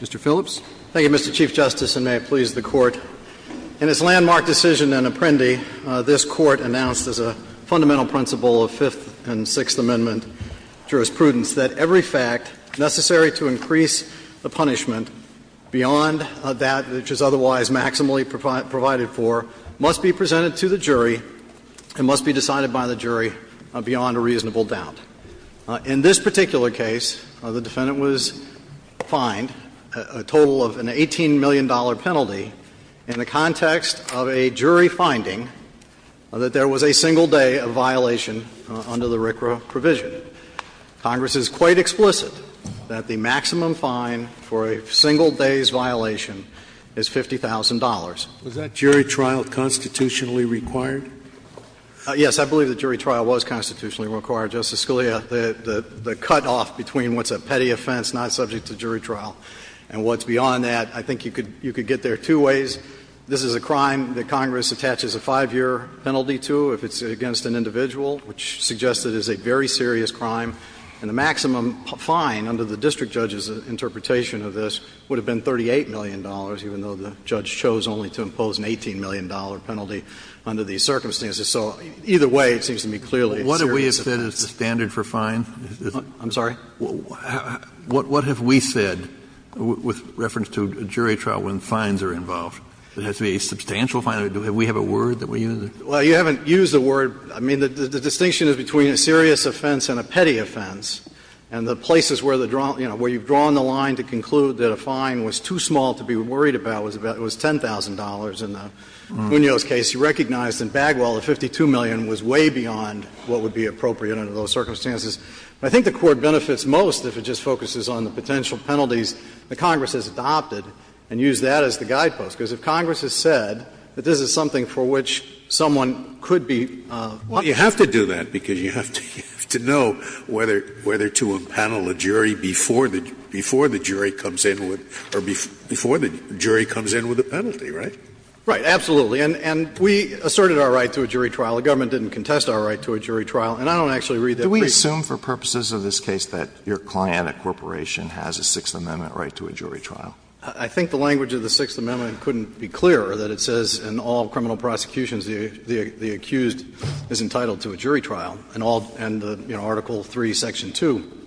Mr. Phillips. Thank you, Mr. Chief Justice, and may it please the Court. In its landmark decision in Apprendi, this Court announced as a fundamental principle of Fifth and Sixth Amendment jurisprudence that every fact necessary to increase the punishment beyond that which is otherwise maximally provided for must be presented v. United States. In this particular case, the defendant was fined a total of an $18 million penalty in the context of a jury finding that there was a single day of violation under the RCRA provision. Congress is quite explicit that the maximum fine for a single day's violation is $50,000. Was that jury trial constitutionally required? Yes, I believe that jury trial was constitutionally required, Justice Scalia. The cutoff between what's a petty offense not subject to jury trial and what's beyond that, I think you could get there two ways. This is a crime that Congress attaches a 5-year penalty to if it's against an individual, which suggests it is a very serious crime. And the maximum fine under the district judge's interpretation of this would have been $38 million, even though the judge chose only to impose an $18 million penalty under these circumstances. So either way, it seems to me clearly a serious offense. Kennedy. What have we said is the standard for fines? I'm sorry? What have we said with reference to jury trial when fines are involved? It has to be a substantial fine? Do we have a word that we use? Well, you haven't used the word. I mean, the distinction is between a serious offense and a petty offense. And the places where the draw – you know, where you've drawn the line to conclude that a fine was too small to be worried about was $10,000. In the Munoz case, you recognized in Bagwell that $52 million was way beyond what would be appropriate under those circumstances. I think the Court benefits most if it just focuses on the potential penalties that Congress has adopted and used that as the guidepost. Because if Congress has said that this is something for which someone could be – Well, you have to do that, because you have to know whether to impanel a jury before the jury comes in with – or before the jury comes in with a penalty, right? Right. Absolutely. And we asserted our right to a jury trial. The government didn't contest our right to a jury trial. And I don't actually read that brief. Do we assume for purposes of this case that your client, a corporation, has a Sixth Amendment right to a jury trial? I think the language of the Sixth Amendment couldn't be clearer, that it says in all criminal prosecutions the accused is entitled to a jury trial. And all – and, you know, Article III, Section 2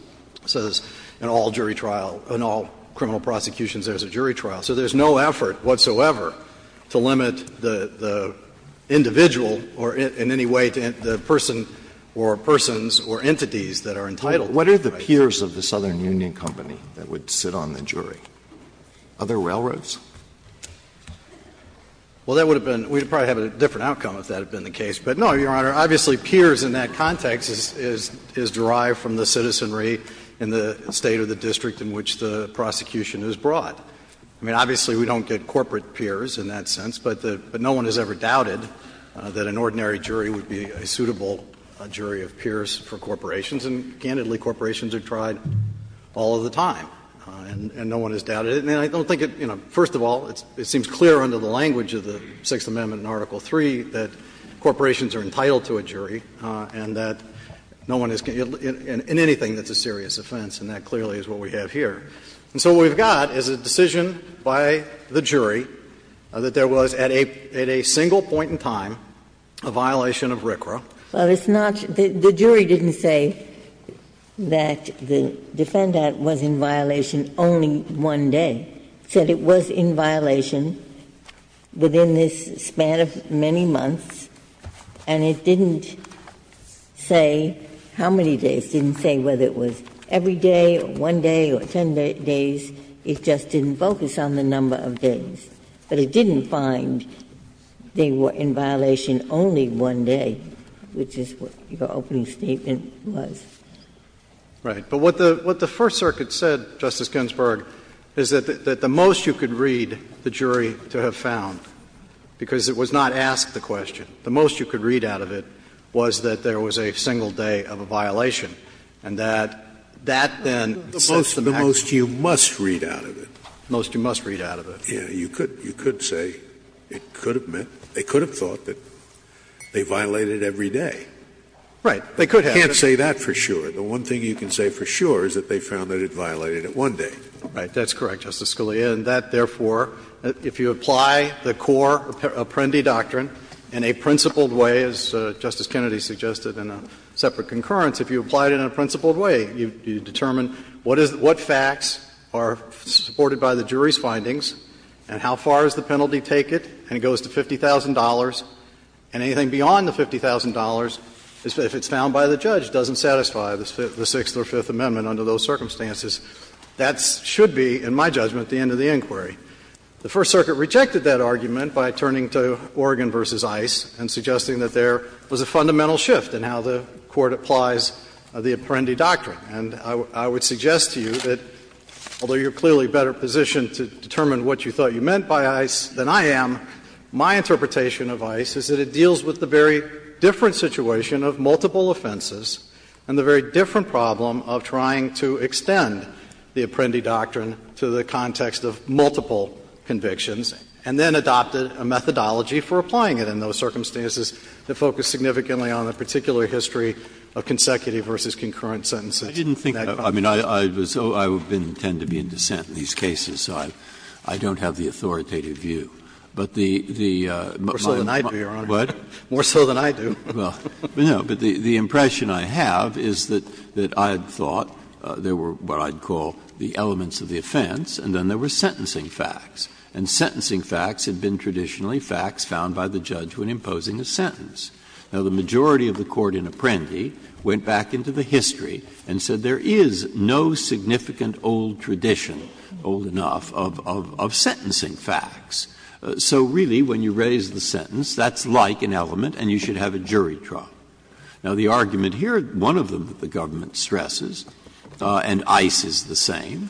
says in all jury trial – in all criminal prosecutions there is a jury trial. So there's no effort whatsoever to limit the individual or in any way the person or persons or entities that are entitled to a jury trial. What are the peers of the Southern Union Company that would sit on the jury? Other railroads? Well, that would have been – we'd probably have a different outcome if that had been the case. But no, Your Honor, obviously peers in that context is derived from the citizenry in the State or the district in which the prosecution is brought. I mean, obviously we don't get corporate peers in that sense, but no one has ever doubted that an ordinary jury would be a suitable jury of peers for corporations. And, candidly, corporations are tried all of the time. And no one has doubted it. And I don't think it – you know, first of all, it seems clear under the language of the Sixth Amendment in Article III that corporations are entitled to a jury, and that no one is – in anything that's a serious offense. And that clearly is what we have here. And so what we've got is a decision by the jury that there was at a single point in time a violation of RCRA. Well, it's not – the jury didn't say that the Defend Act was in violation only one day. It said it was in violation within this span of many months. And it didn't say how many days. It didn't say whether it was every day or one day or 10 days. It just didn't focus on the number of days. But it didn't find they were in violation only one day, which is what your opening statement was. Right. But what the First Circuit said, Justice Ginsburg, is that the most you could read the jury to have found, because it was not asked the question, the most you could read out of it was that there was a single day of a violation, and that that then sets the maximum. The most you must read out of it. The most you must read out of it. Yes. You could say it could have meant – they could have thought that they violated every day. Right. They could have. You can't say that for sure. The one thing you can say for sure is that they found that it violated it one day. Right. That's correct, Justice Scalia. And that, therefore, if you apply the core Apprendi doctrine in a principled way, as Justice Kennedy suggested in a separate concurrence, if you apply it in a principled way, you determine what facts are supported by the jury's findings and how far does the penalty take it, and it goes to $50,000, and anything beyond the $50,000 if it's found by the judge doesn't satisfy the Sixth or Fifth Amendment under those circumstances. That should be, in my judgment, the end of the inquiry. The First Circuit rejected that argument by turning to Oregon v. ICE and suggesting that there was a fundamental shift in how the Court applies the Apprendi doctrine. And I would suggest to you that although you're clearly better positioned to determine what you thought you meant by ICE than I am, my interpretation of ICE is that it deals with the very different situation of multiple offenses and the very different problem of trying to extend the Apprendi doctrine to the context of multiple convictions, and then adopted a methodology for applying it in those circumstances that focused significantly on the particular history of consecutive versus concurrent sentences. Breyer. I didn't think that. I mean, I was so — I tend to be in dissent in these cases, so I don't have the authoritative view. But the, the, my, my. More so than I do. Breyer. Well, no, but the impression I have is that, that I had thought there were what I'd call the elements of the offense, and then there were sentencing facts. And sentencing facts had been traditionally facts found by the judge when imposing a sentence. Now, the majority of the Court in Apprendi went back into the history and said there is no significant old tradition, old enough, of, of sentencing facts. So really, when you raise the sentence, that's like an element, and you should have a jury trial. Now, the argument here, one of them that the government stresses, and ICE is the same,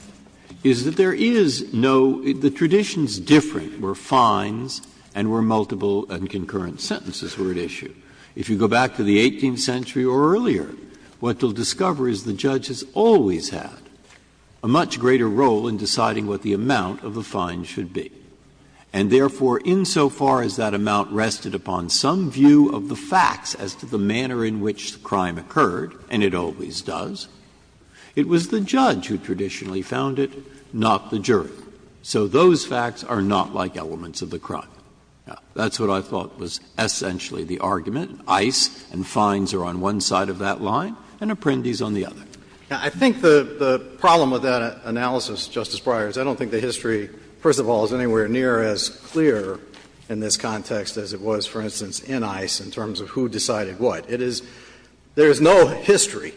is that there is no — the tradition is different where fines and where multiple and concurrent sentences were at issue. If you go back to the 18th century or earlier, what you'll discover is the judge has always had a much greater role in deciding what the amount of the fine should be. And therefore, insofar as that amount rested upon some view of the facts as to the manner in which the crime occurred, and it always does, it was the judge who traditionally found it, not the jury. So those facts are not like elements of the crime. Now, that's what I thought was essentially the argument. ICE and fines are on one side of that line, and Apprendi is on the other. Now, I think the, the problem with that analysis, Justice Breyer, is I don't think the history, first of all, is anywhere near as clear in this context as it was, for instance, in ICE in terms of who decided what. It is — there is no history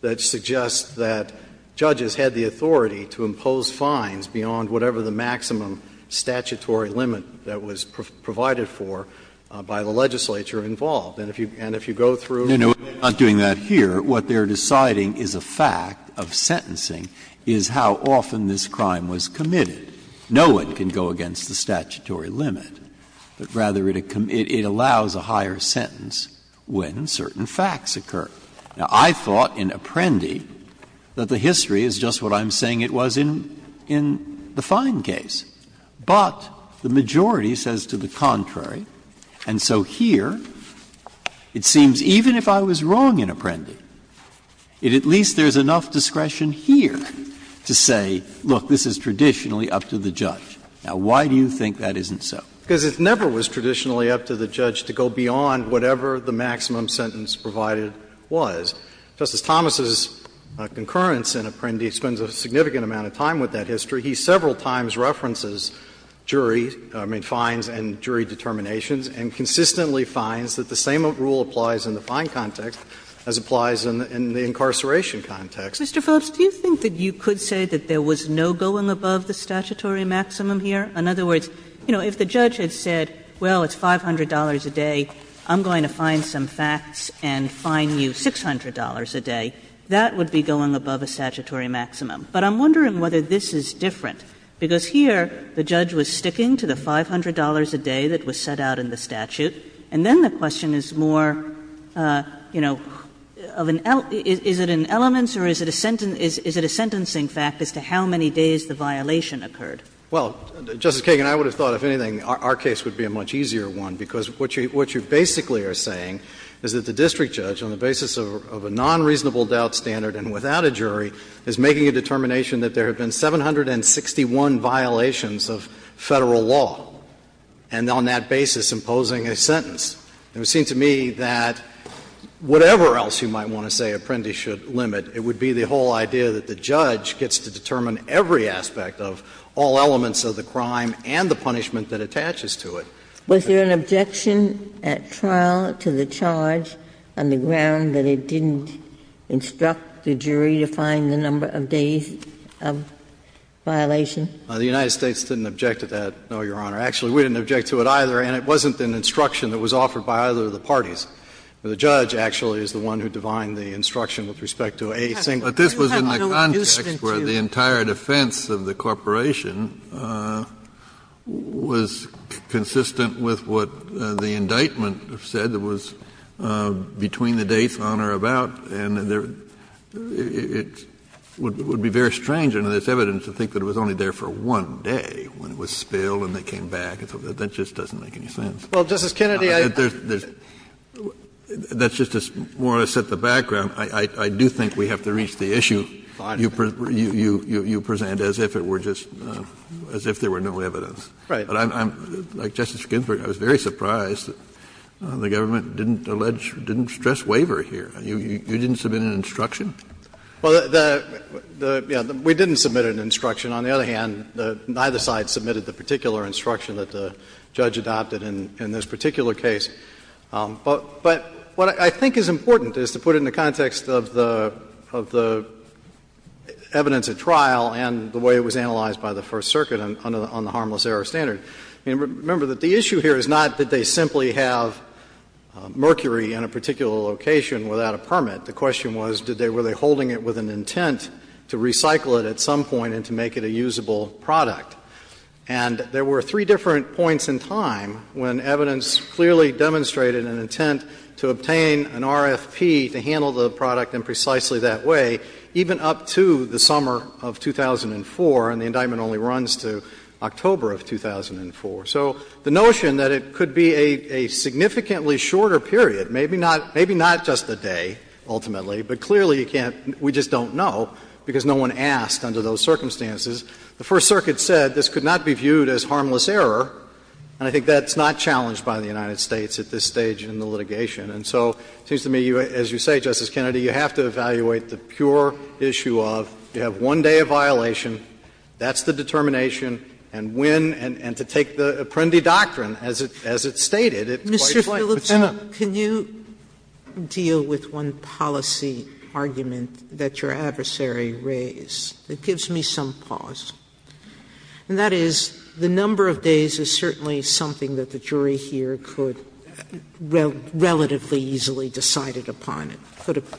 that suggests that judges had the authority to impose fines beyond whatever the maximum statutory limit that was provided for by the legislature And if you go through — Breyer. No, no, we're not doing that here. What they're deciding is a fact of sentencing is how often this crime was committed. No one can go against the statutory limit, but rather it allows a higher sentence when certain facts occur. Now, I thought in Apprendi that the history is just what I'm saying it was in, in the fine case. But the majority says to the contrary, and so here it seems even if I was wrong in Apprendi, it at least there is enough discretion here to say, look, this is traditionally up to the judge. Now, why do you think that isn't so? Because it never was traditionally up to the judge to go beyond whatever the maximum sentence provided was. Justice Thomas's concurrence in Apprendi spends a significant amount of time with that history. He several times references jury — I mean, fines and jury determinations and consistently fines that the same rule applies in the fine context as applies in the incarceration context. Kagan Mr. Phillips, do you think that you could say that there was no going above the statutory maximum here? In other words, you know, if the judge had said, well, it's $500 a day, I'm going to find some facts and fine you $600 a day, that would be going above a statutory maximum. But I'm wondering whether this is different, because here the judge was sticking to the $500 a day that was set out in the statute, and then the question is more, you know, of an — is it in elements or is it a sentencing fact as to how many days the violation occurred? Justice Alito Well, Justice Kagan, I would have thought, if anything, our case would be a much easier one, because what you basically are saying is that the district judge, on the basis of a nonreasonable doubt standard and without a jury, is making a determination that there have been 761 violations of Federal law, and on that basis imposing a sentence. It would seem to me that whatever else you might want to say apprentice should limit, it would be the whole idea that the judge gets to determine every aspect of all elements of the crime and the punishment that attaches to it. Ginsburg Was there an objection at trial to the charge on the ground that it didn't instruct the jury to find the number of days of violation? Justice Alito The United States didn't object to that, no, Your Honor. Actually, we didn't object to it either, and it wasn't an instruction that was offered by either of the parties. The judge, actually, is the one who defined the instruction with respect to a single case. Kennedy But this was in the context where the entire defense of the corporation was consistent with what the indictment said. It was between the dates, on or about, and it would be very strange under this evidence to think that it was only there for one day, when it was spilled and they came back. That just doesn't make any sense. Gershengorn Well, Justice Kennedy, I think that's just more to set the background. I do think we have to reach the issue you present as if it were just as if there were no evidence. Ginsburg Right. But the government didn't allege, didn't stress waiver here. You didn't submit an instruction? Gershengorn Well, the — we didn't submit an instruction. On the other hand, neither side submitted the particular instruction that the judge adopted in this particular case. But what I think is important is to put it in the context of the evidence at trial and the way it was analyzed by the First Circuit on the harmless error standard. I mean, remember that the issue here is not that they simply have mercury in a particular location without a permit. The question was did they — were they holding it with an intent to recycle it at some point and to make it a usable product. And there were three different points in time when evidence clearly demonstrated an intent to obtain an RFP to handle the product in precisely that way, even up to the So the notion that it could be a significantly shorter period, maybe not — maybe not just a day, ultimately, but clearly you can't — we just don't know because no one asked under those circumstances. The First Circuit said this could not be viewed as harmless error, and I think that's not challenged by the United States at this stage in the litigation. And so it seems to me, as you say, Justice Kennedy, you have to evaluate the pure issue of you have one day of violation. That's the determination. And when — and to take the Apprendi doctrine, as it — as it's stated, it's quite Sotomayor, Mr. Phillips, can you deal with one policy argument that your adversary raised that gives me some pause? And that is, the number of days is certainly something that the jury here could relatively easily decided upon. Phillips,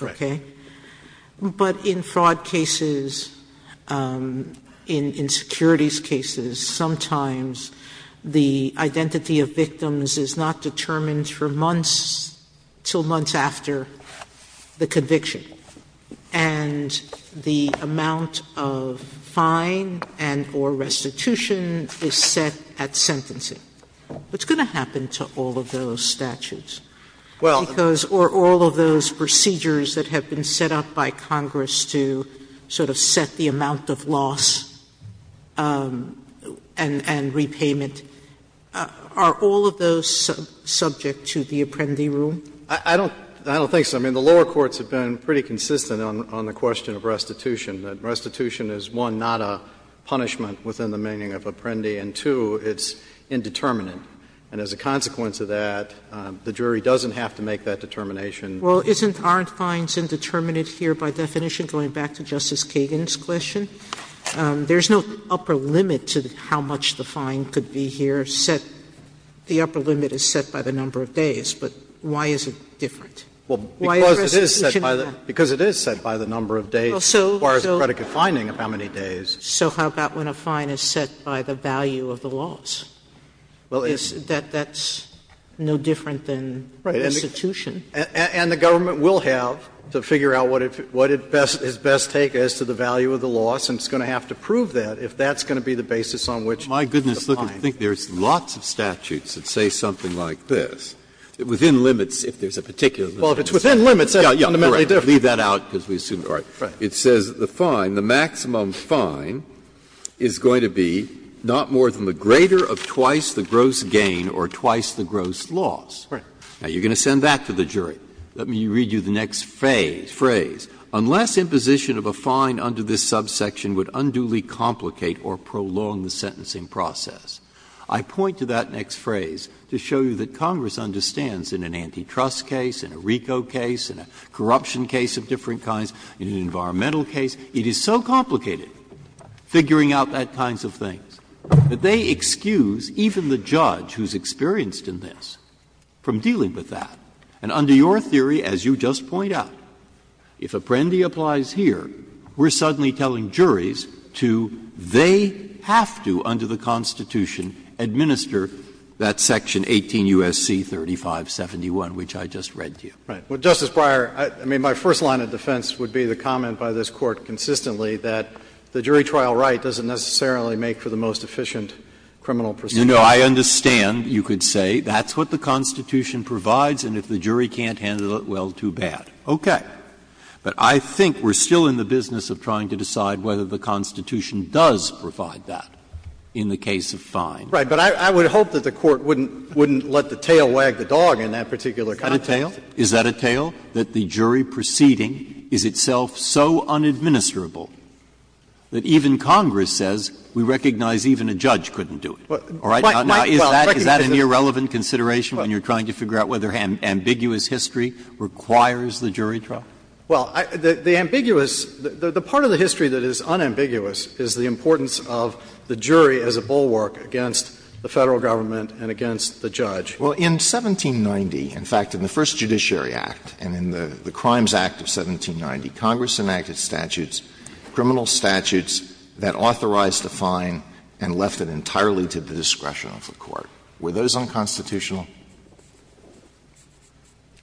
Right. But in fraud cases, in securities cases, sometimes the identity of victims is not determined for months until months after the conviction. And the amount of fine and — or restitution is set at sentencing. What's going to happen to all of those statutes? Because all of those procedures that have been set up by Congress to sort of set the amount of loss and repayment, are all of those subject to the Apprendi rule? I don't think so. I mean, the lower courts have been pretty consistent on the question of restitution. Restitution is, one, not a punishment within the meaning of Apprendi, and two, it's indeterminate. And as a consequence of that, the jury doesn't have to make that determination. Sotomayor, Well, isn't our fines indeterminate here by definition, going back to Justice Kagan's question? There's no upper limit to how much the fine could be here set. The upper limit is set by the number of days. But why is it different? Why is restitution different? Phillips, Because it is set by the number of days, as far as the predicate finding of how many days. Sotomayor, So how about when a fine is set by the value of the loss? That's no different than restitution. Phillips, And the government will have to figure out what is best take as to the value of the loss, and it's going to have to prove that if that's going to be the basis on which the fine is. Breyer, My goodness, I think there's lots of statutes that say something like this. Within limits, if there's a particular limit. Phillips, Well, if it's within limits, that's fundamentally different. Breyer, Leave that out, because we assume it's not. Breyer, It says the fine, the maximum fine, is going to be not more than the greater of twice the gross gain or twice the gross loss. Phillips, Right. Breyer, Now, you're going to send that to the jury. Let me read you the next phrase. Unless imposition of a fine under this subsection would unduly complicate or prolong the sentencing process. I point to that next phrase to show you that Congress understands in an antitrust case, in a RICO case, in a corruption case of different kinds, in an environmental case, it is so complicated figuring out that kinds of things that they excuse even the judge who's experienced in this from dealing with that. And under your theory, as you just point out, if Apprendi applies here, we're suddenly telling juries to, they have to, under the Constitution, administer that section 18 U.S.C. 3571, which I just read to you. Phillips, Right. Well, Justice Breyer, I mean, my first line of defense would be the comment by this Court consistently that the jury trial right doesn't necessarily make for the most efficient criminal procedure. Breyer, You know, I understand, you could say, that's what the Constitution provides, and if the jury can't handle it, well, too bad. Phillips, Okay. Breyer, But I think we're still in the business of trying to decide whether the Constitution does provide that in the case of fines. Phillips, Right. But I would hope that the Court wouldn't let the tail wag the dog in that particular context. Breyer, Is that a tale? Is that a tale, that the jury proceeding is itself so unadministerable that even Congress says we recognize even a judge couldn't do it? All right? Now, is that an irrelevant consideration when you're trying to figure out whether ambiguous history requires the jury trial? Phillips, Well, the ambiguous the part of the history that is unambiguous is the importance of the jury as a bulwark against the Federal government and against the judge. Alito, Well, in 1790, in fact, in the first Judiciary Act and in the Crimes Act of 1790, Congress enacted statutes, criminal statutes, that authorized a fine and left it entirely to the discretion of the Court. Were those unconstitutional?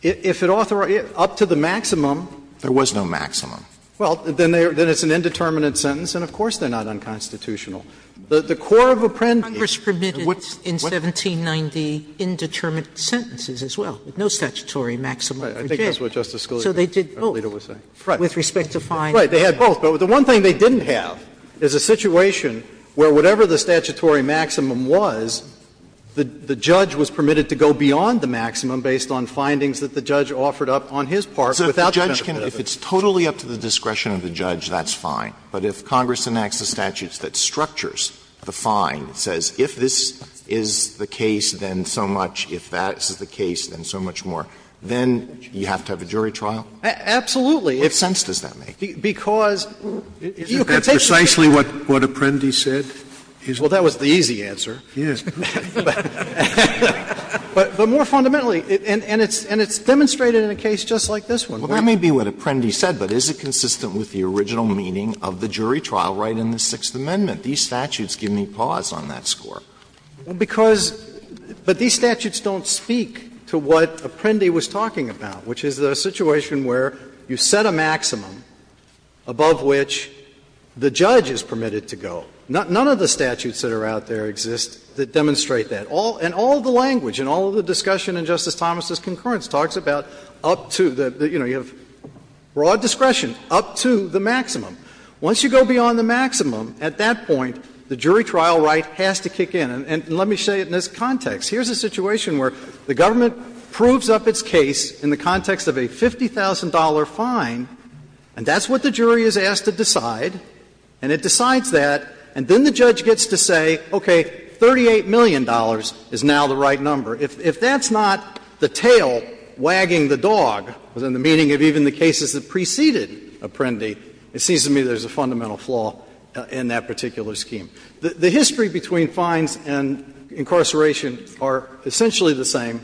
Phillips, If it authorized it, up to the maximum. Alito, There was no maximum. Phillips, Well, then it's an indeterminate sentence, and of course they're not unconstitutional. The core of Apprendi. Sotomayor, Congress permitted in 1790 indeterminate sentences as well, no statutory maximum for jail. Phillips, I think that's what Justice Scalia and Alito were saying. Sotomayor, So they did both, with respect to fines. Phillips, Right, they had both, but the one thing they didn't have is a situation where whatever the statutory maximum was, the judge was permitted to go beyond of the judge. Alito, If it's totally up to the discretion of the judge, that's fine. But if Congress enacts the statutes that structures the fine, it says if this is the case, then so much, if that is the case, then so much more, then you have to have a jury trial? Phillips, Absolutely. Alito, What sense does that make? Phillips, Because you can take the case. Scalia, Isn't that precisely what Apprendi said? Phillips, Well, that was the easy answer. Scalia, Yes. Phillips, But more fundamentally, and it's demonstrated in a case just like this one. Alito, Well, that may be what Apprendi said, but is it consistent with the original meaning of the jury trial right in the Sixth Amendment? These statutes give me pause on that score. Phillips, Because these statutes don't speak to what Apprendi was talking about, which is the situation where you set a maximum above which the judge is permitted to go. None of the statutes that are out there exist that demonstrate that. And all of the language and all of the discussion in Justice Thomas' concurrence talks about up to the, you know, you have broad discretion up to the maximum. Once you go beyond the maximum, at that point, the jury trial right has to kick in. And let me say it in this context. Here's a situation where the government proves up its case in the context of a $50,000 fine, and that's what the jury is asked to decide, and it decides that, and then the judge gets to say, okay, $38 million is now the right number. If that's not the tail wagging the dog in the meaning of even the cases that preceded Apprendi, it seems to me there's a fundamental flaw in that particular scheme. The history between fines and incarceration are essentially the same.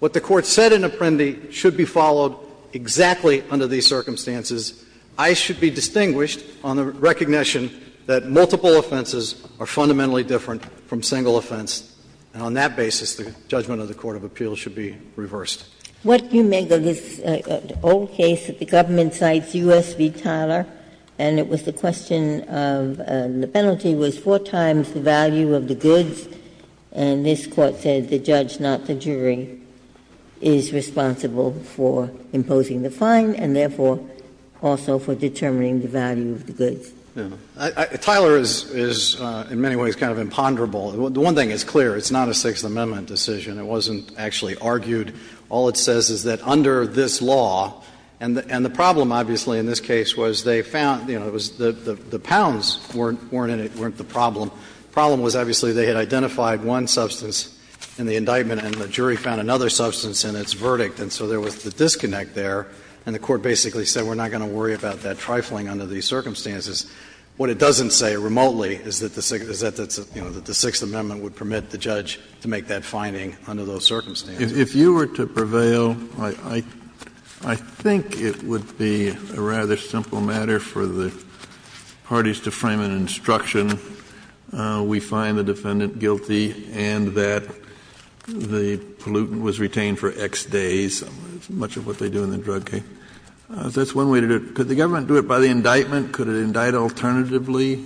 What the Court said in Apprendi should be followed exactly under these circumstances. I should be distinguished on the recognition that multiple offenses are fundamentally different from single offense. And on that basis, the judgment of the court of appeals should be reversed. Ginsburg. What you make of this old case that the government cites, U.S. v. Tyler, and it was the question of the penalty was four times the value of the goods, and this Court said the judge, not the jury, is responsible for imposing the fine and therefore also for determining the value of the goods. Tyler is in many ways kind of imponderable. The one thing is clear, it's not a Sixth Amendment decision. It wasn't actually argued. All it says is that under this law, and the problem, obviously, in this case was they found, you know, it was the pounds weren't in it, weren't the problem. The problem was, obviously, they had identified one substance in the indictment and the jury found another substance in its verdict, and so there was the disconnect there, and the Court basically said we're not going to worry about that trifling under these circumstances. What it doesn't say remotely is that the Sixth Amendment would permit the judge to make that fining under those circumstances. Kennedy, if you were to prevail, I think it would be a rather simple matter for the parties to frame an instruction, we find the defendant guilty and that the pollutant was retained for X days, much of what they do in the drug case. Kennedy, that's one way to do it. Could the government do it by the indictment? Could it indict alternatively,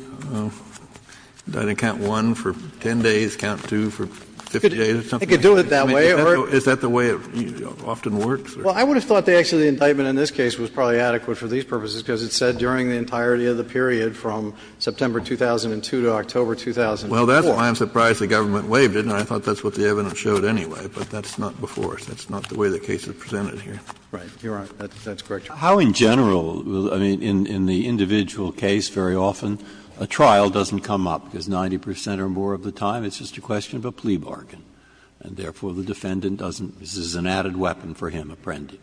indicting count one for 10 days, count two for 50 days or something like that? I mean, is that the way it often works? Well, I would have thought that actually the indictment in this case was probably adequate for these purposes, because it said during the entirety of the period from September 2002 to October 2004. Well, that's why I'm surprised the government waived it, and I thought that's what the evidence showed anyway, but that's not before. That's not the way the case is presented here. Right. You're right. That's correct. How in general, I mean, in the individual case very often a trial doesn't come up, because 90 percent or more of the time it's just a question of a plea bargain, and therefore the defendant doesn't, this is an added weapon for him, apprendi.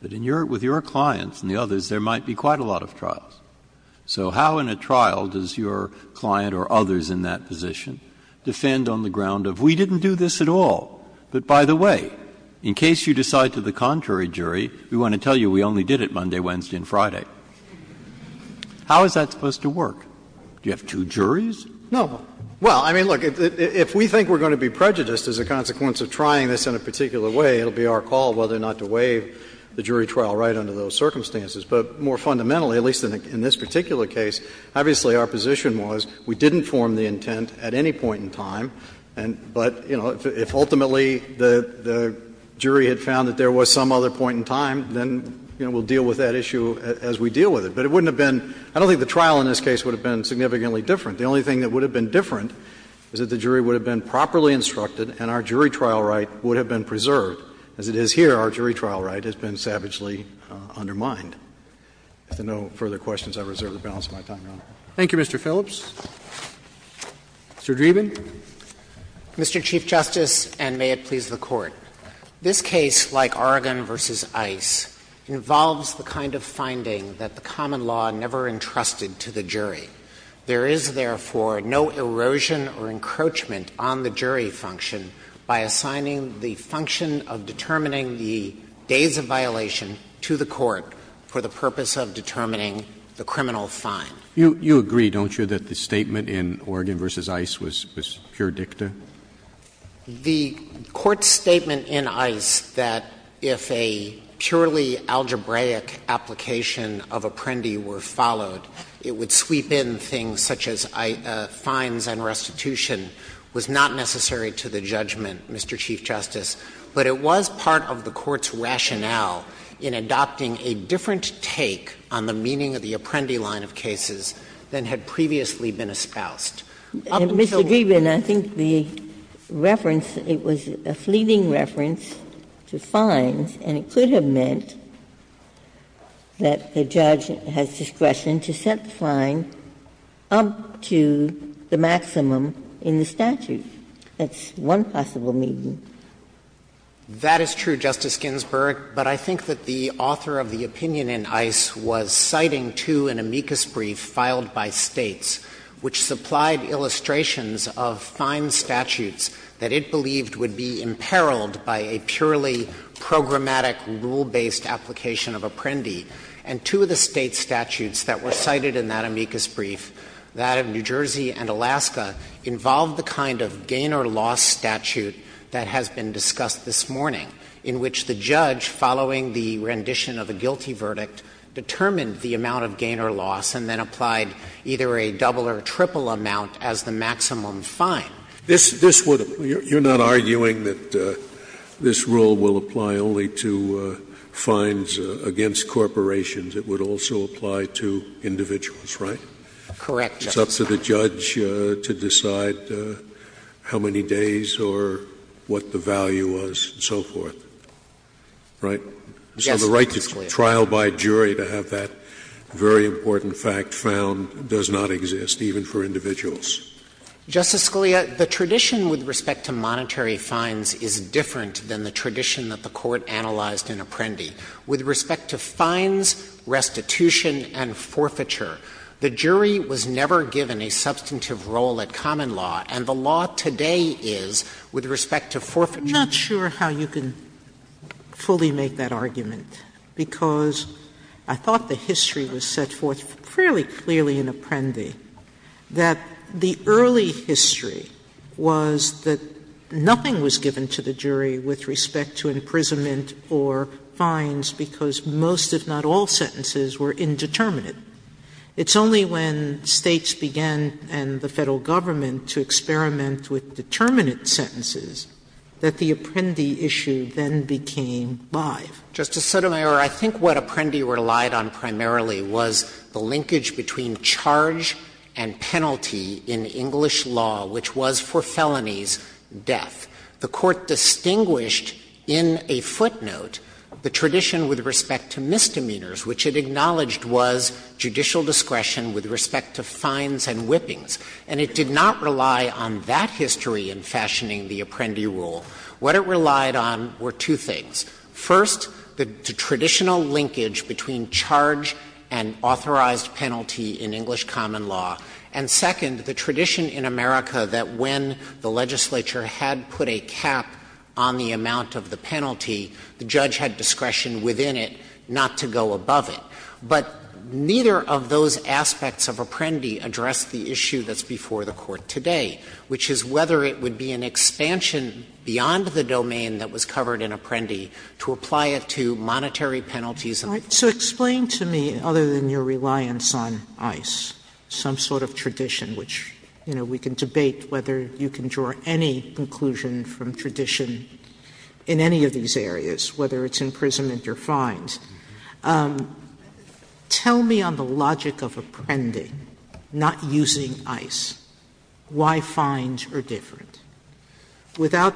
But with your clients and the others, there might be quite a lot of trials. So how in a trial does your client or others in that position defend on the ground of we didn't do this at all, but by the way, in case you decide to the contrary jury, we want to tell you we only did it Monday, Wednesday, and Friday? How is that supposed to work? Do you have two juries? No. Well, I mean, look, if we think we're going to be prejudiced as a consequence of trying this in a particular way, it will be our call whether or not to waive the jury trial right under those circumstances. But more fundamentally, at least in this particular case, obviously our position was we didn't form the intent at any point in time, but, you know, if ultimately the jury had found that there was some other point in time, then, you know, we'll deal with that issue as we deal with it. But it wouldn't have been — I don't think the trial in this case would have been significantly different. The only thing that would have been different is that the jury would have been properly instructed and our jury trial right would have been preserved. As it is here, our jury trial right has been savagely undermined. If there are no further questions, I reserve the balance of my time, Your Honor. Roberts. Thank you, Mr. Phillips. Mr. Dreeben. Mr. Chief Justice, and may it please the Court. This case, like Oregon v. Ice, involves the kind of finding that the common law never entrusted to the jury. There is, therefore, no erosion or encroachment on the jury function by assigning the function of determining the days of violation to the court for the purpose of determining the criminal fine. You agree, don't you, that the statement in Oregon v. Ice was pure dicta? The Court's statement in Ice that if a purely algebraic application of apprendi were followed, it would sweep in things such as fines and restitution was not necessary to the judgment, Mr. Chief Justice. But it was part of the Court's rationale in adopting a different take on the meaning of the word, and that is that the Court had to have a different line of cases than had previously been espoused. Mr. Dreeben, I think the reference, it was a fleeting reference to fines, and it could have meant that the judge has discretion to set the fine up to the maximum in the statute. That's one possible meaning. Dreeben, that is true, Justice Ginsburg, but I think that the author of the opinion in Ice was citing two in amicus brief filed by States, which supplied illustrations of fine statutes that it believed would be imperiled by a purely programmatic rule-based application of apprendi. And two of the State statutes that were cited in that amicus brief, that of New Jersey and Alaska, involved the kind of gain-or-loss statute that has been discussed this morning, in which the judge, following the rendition of a guilty verdict, determined the amount of gain-or-loss and then applied either a double or triple amount as the maximum fine. This would — you're not arguing that this rule will apply only to fines against corporations. It would also apply to individuals, right? Correct, Justice. It's up to the judge to decide how many days or what the value was, and so forth. Right? Yes, Justice Scalia. So the right to trial by jury to have that very important fact found does not exist, even for individuals. Justice Scalia, the tradition with respect to monetary fines is different than the tradition that the Court analyzed in Apprendi. With respect to fines, restitution, and forfeiture, the jury was never given a substantive role at common law, and the law today is, with respect to forfeiture. I'm not sure how you can fully make that argument, because I thought the history was set forth fairly clearly in Apprendi, that the early history was that nothing was given to the jury with respect to imprisonment or fines because most, if not all, sentences were indeterminate. It's only when States began, and the Federal Government, to experiment with determinate sentences, that the Apprendi issue then became live. Justice Sotomayor, I think what Apprendi relied on primarily was the linkage between charge and penalty in English law, which was, for felonies, death. The Court distinguished in a footnote the tradition with respect to misdemeanors, which it acknowledged was judicial discretion with respect to fines and whippings. And it did not rely on that history in fashioning the Apprendi rule. What it relied on were two things. First, the traditional linkage between charge and authorized penalty in English common law, and second, the tradition in America that when the legislature had put a cap on the amount of the penalty, the judge had discretion within it not to go above it. But neither of those aspects of Apprendi addressed the issue that's before the Court today, which is whether it would be an expansion beyond the domain that was covered in Apprendi to apply it to monetary penalties and other things. Sotomayor, so explain to me, other than your reliance on ICE, some sort of tradition, which, you know, we can debate whether you can draw any conclusion from tradition in any of these areas, whether it's imprisonment or fines. Tell me on the logic of Apprendi not using ICE, why fines are different? Without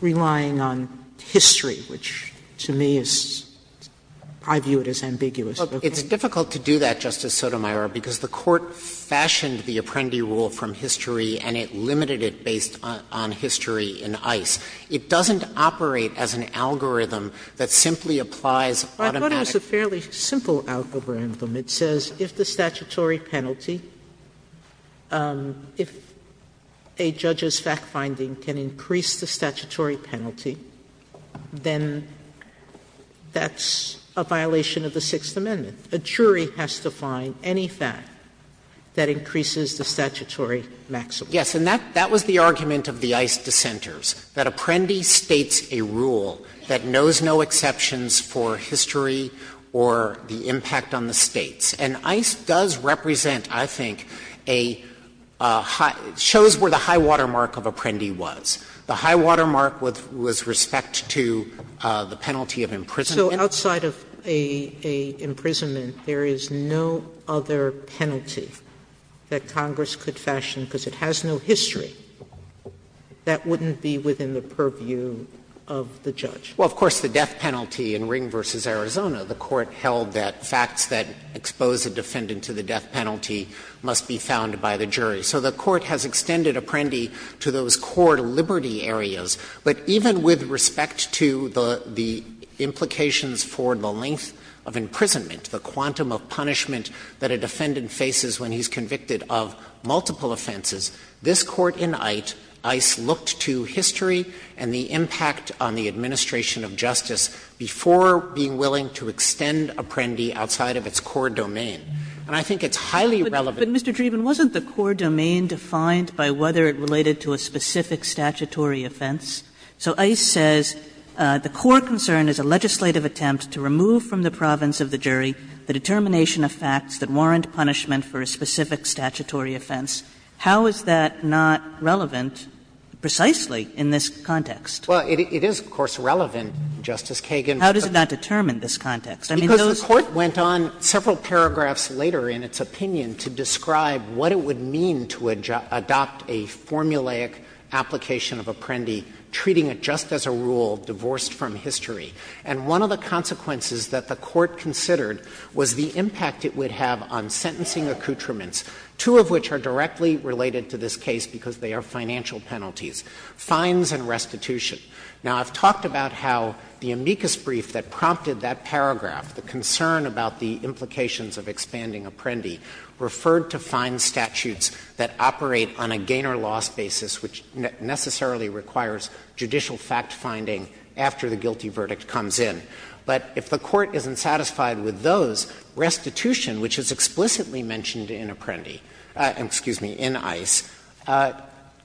relying on history, which to me is – I view it as ambiguous. Dreeben, it's difficult to do that, Justice Sotomayor, because the Court fashioned the Apprendi rule from history and it limited it based on history in ICE. It doesn't operate as an algorithm that simply applies automatic. Sotomayor, I thought it was a fairly simple algorithm. It says if the statutory penalty – if a judge's fact-finding can increase the statutory penalty, then that's a violation of the Sixth Amendment. A jury has to find any fact that increases the statutory maximum. Yes. And that was the argument of the ICE dissenters, that Apprendi states a rule that does not require the impact on the States. And ICE does represent, I think, a high – shows where the high-water mark of Apprendi was. The high-water mark was respect to the penalty of imprisonment. Sotomayor, so outside of an imprisonment, there is no other penalty that Congress could fashion because it has no history that wouldn't be within the purview of the judge? Well, of course, the death penalty in Ring v. Arizona, the Court held that facts that expose a defendant to the death penalty must be found by the jury. So the Court has extended Apprendi to those core liberty areas. But even with respect to the implications for the length of imprisonment, the quantum of punishment that a defendant faces when he's convicted of multiple offenses, this Court in ITE, ICE looked to history and the impact on the administration of justice before being willing to extend Apprendi outside of its core domain. And I think it's highly relevant. But, Mr. Dreeben, wasn't the core domain defined by whether it related to a specific statutory offense? So ICE says the core concern is a legislative attempt to remove from the province of the jury the determination of facts that warrant punishment for a specific statutory offense. How is that not relevant precisely in this context? Well, it is, of course, relevant, Justice Kagan. How does that determine this context? Because the Court went on several paragraphs later in its opinion to describe what it would mean to adopt a formulaic application of Apprendi, treating it just as a rule divorced from history. And one of the consequences that the Court considered was the impact it would have on sentencing accoutrements, two of which are directly related to this case because they are financial penalties, fines and restitution. Now, I've talked about how the amicus brief that prompted that paragraph, the concern about the implications of expanding Apprendi, referred to fine statutes that operate on a gain-or-loss basis, which necessarily requires judicial fact-finding after the guilty verdict comes in. But if the Court isn't satisfied with those, restitution, which is explicitly mentioned in Apprendi — excuse me, in ICE,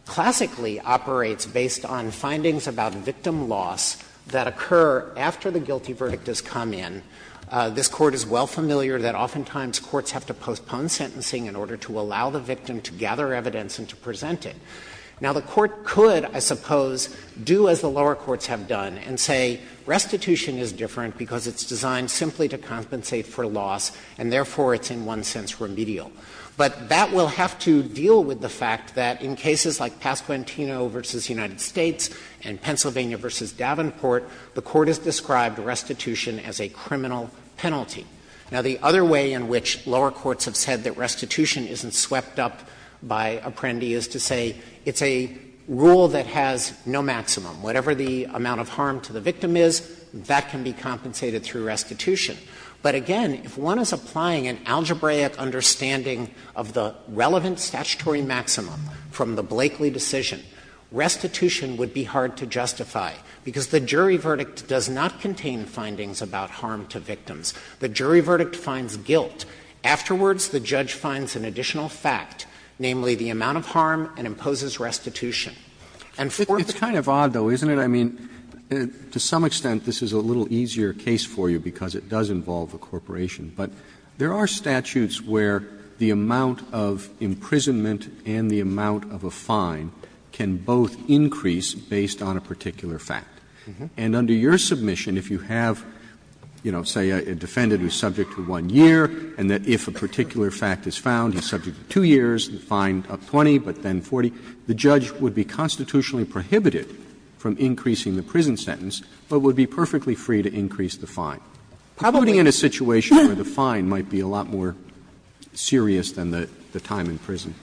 classically operates based on findings about victim loss that occur after the guilty verdict has come in. This Court is well familiar that oftentimes courts have to postpone sentencing in order to allow the victim to gather evidence and to present it. Now, the Court could, I suppose, do as the lower courts have done and say restitution is different because it's designed simply to compensate for loss, and therefore it's in one sense remedial. But that will have to deal with the fact that in cases like Pasquantino v. United States and Pennsylvania v. Davenport, the Court has described restitution as a criminal penalty. Now, the other way in which lower courts have said that restitution isn't swept up by Apprendi is to say it's a rule that has no maximum. Whatever the amount of harm to the victim is, that can be compensated through restitution. But again, if one is applying an algebraic understanding of the relevant statutory maximum from the Blakeley decision, restitution would be hard to justify, because the jury verdict does not contain findings about harm to victims. The jury verdict finds guilt. Afterwards, the judge finds an additional fact, namely the amount of harm and imposes And for the Court to say that restitution is a criminal penalty, it's not. Roberts, it's kind of odd, though, isn't it? I mean, to some extent, this is a little easier case for you, because it does involve a corporation. But there are statutes where the amount of imprisonment and the amount of a fine can both increase based on a particular fact. And under your submission, if you have, you know, say a defendant who is subject to one year, and that if a particular fact is found, he's subject to two years, the fine of 20, but then 40, the judge would be constitutionally prohibited from increasing the prison sentence, but would be perfectly free to increase the fine, including in a situation where the fine might be a lot more serious than the time in prison.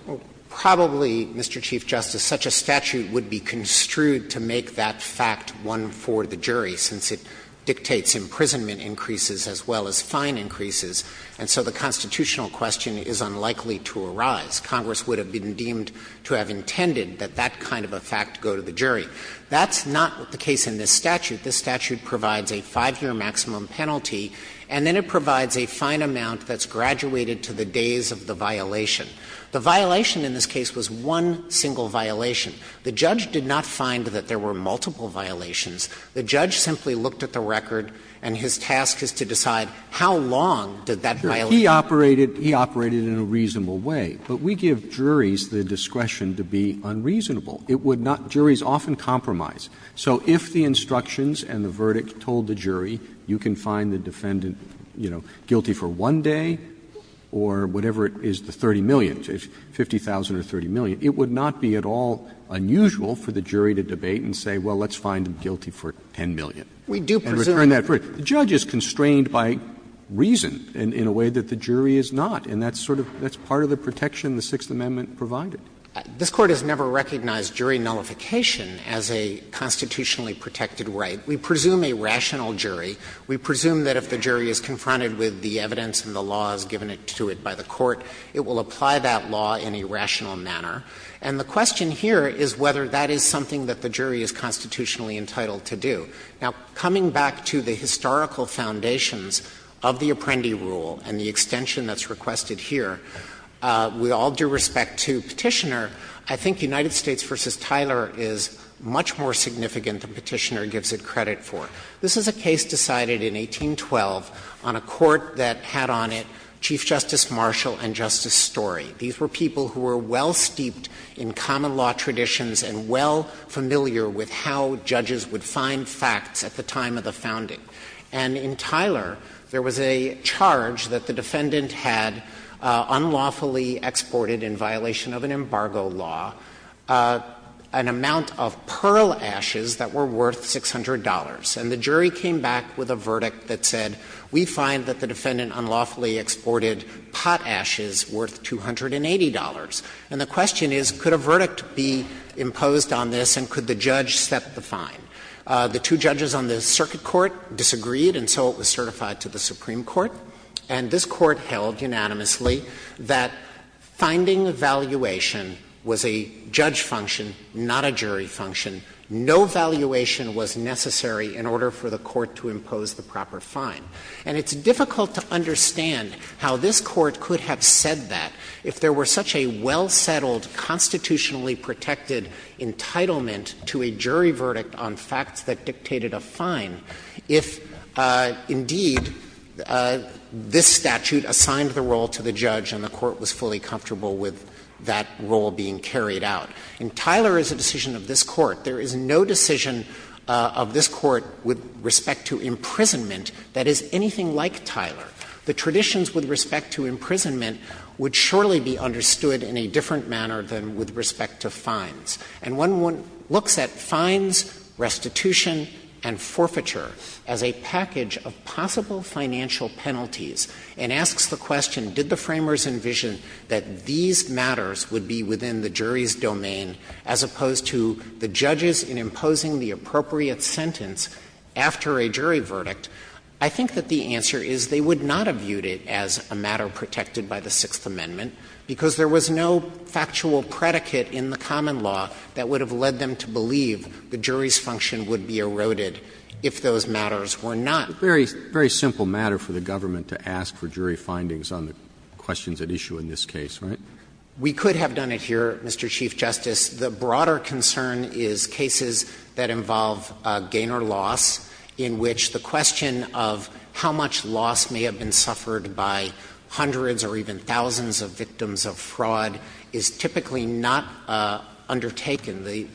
Probably, Mr. Chief Justice, such a statute would be construed to make that fact one for the jury, since it dictates imprisonment increases as well as fine increases. And so the constitutional question is unlikely to arise. Congress would have been deemed to have intended that that kind of a fact go to the jury. That's not the case in this statute. This statute provides a 5-year maximum penalty, and then it provides a fine amount that's graduated to the days of the violation. The violation in this case was one single violation. The judge did not find that there were multiple violations. The judge simply looked at the record, and his task is to decide how long did that violation last. He operated in a reasonable way, but we give juries the discretion to be unreasonable. It would not – juries often compromise. So if the instructions and the verdict told the jury you can find the defendant, you know, guilty for 1 day or whatever it is, the 30 million, 50,000 or 30 million, it would not be at all unusual for the jury to debate and say, well, let's find him guilty for 10 million and return that verdict. The judge is constrained by reason in a way that the jury is not, and that's sort of – that's part of the protection the Sixth Amendment provided. Dreeben, This Court has never recognized jury nullification as a constitutionally protected right. We presume a rational jury. We presume that if the jury is confronted with the evidence and the law as given it to it by the court, it will apply that law in a rational manner. And the question here is whether that is something that the jury is constitutionally entitled to do. Now, coming back to the historical foundations of the Apprendi rule and the extension that's requested here, with all due respect to Petitioner, I think United States v. Tyler is much more significant than Petitioner gives it credit for. This is a case decided in 1812 on a court that had on it Chief Justice Marshall and Justice Story. These were people who were well-steeped in common law traditions and well familiar with how judges would find facts at the time of the founding. And in Tyler, there was a charge that the defendant had unlawfully exported in violation of an embargo law an amount of pearl ashes that were worth $600. And the jury came back with a verdict that said, we find that the defendant unlawfully exported pot ashes worth $280. And the question is, could a verdict be imposed on this and could the judge set the fine? The two judges on the circuit court disagreed, and so it was certified to the Supreme Court. And this Court held unanimously that finding valuation was a judge function, not a jury function. No valuation was necessary in order for the Court to impose the proper fine. And it's difficult to understand how this Court could have said that if there were such a well-settled, constitutionally protected entitlement to a jury verdict on facts that dictated a fine, if, indeed, this statute assigned the role to the judge and the Court was fully comfortable with that role being carried out. In Tyler, as a decision of this Court, there is no decision of this Court with respect to imprisonment that is anything like Tyler. The traditions with respect to imprisonment would surely be understood in a different manner than with respect to fines. And one looks at fines, restitution, and forfeiture as a package of possible financial penalties and asks the question, did the framers envision that these matters would be within the jury's domain as opposed to the judges in imposing the appropriate sentence after a jury verdict, I think that the answer is they would not have viewed it as a matter protected by the Sixth Amendment because there was no factual predicate in the common law that would have led them to believe the jury's function would be eroded if those matters were not. Very, very simple matter for the government to ask for jury findings on the questions at issue in this case, right? We could have done it here, Mr. Chief Justice. The broader concern is cases that involve gain or loss in which the question of how much loss may have been suffered by hundreds or even thousands of victims of fraud is typically not undertaken. The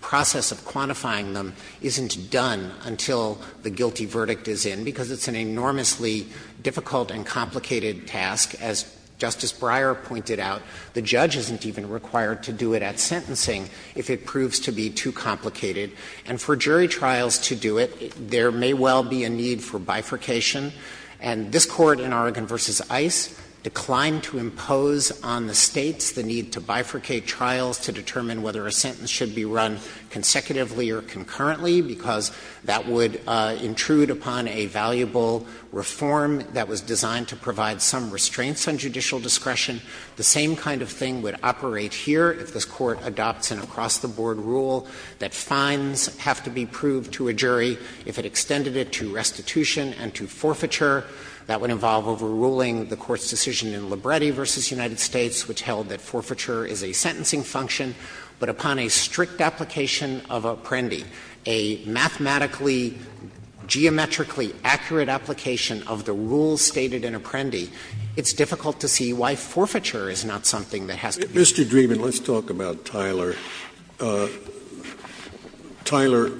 process of quantifying them isn't done until the guilty verdict is in because it's an enormously difficult and complicated task. As Justice Breyer pointed out, the judge isn't even required to do it at sentencing if it proves to be too complicated. And for jury trials to do it, there may well be a need for bifurcation. And this Court in Oregon v. Ice declined to impose on the States the need to bifurcate trials to determine whether a sentence should be run consecutively or concurrently because that would intrude upon a valuable reform that was designed to provide some restraints on judicial discretion. The same kind of thing would operate here if this Court adopts an across-the-board rule that fines have to be proved to a jury if it extended it to restitution and to forfeiture. That would involve overruling the Court's decision in Libretti v. United States, which held that forfeiture is a sentencing function, but upon a strict application of apprendi, a mathematically, geometrically accurate application of the rules stated in apprendi, it's difficult to see why forfeiture is not something that has to be used. Scalia Mr. Dreeben, let's talk about Tyler. Tyler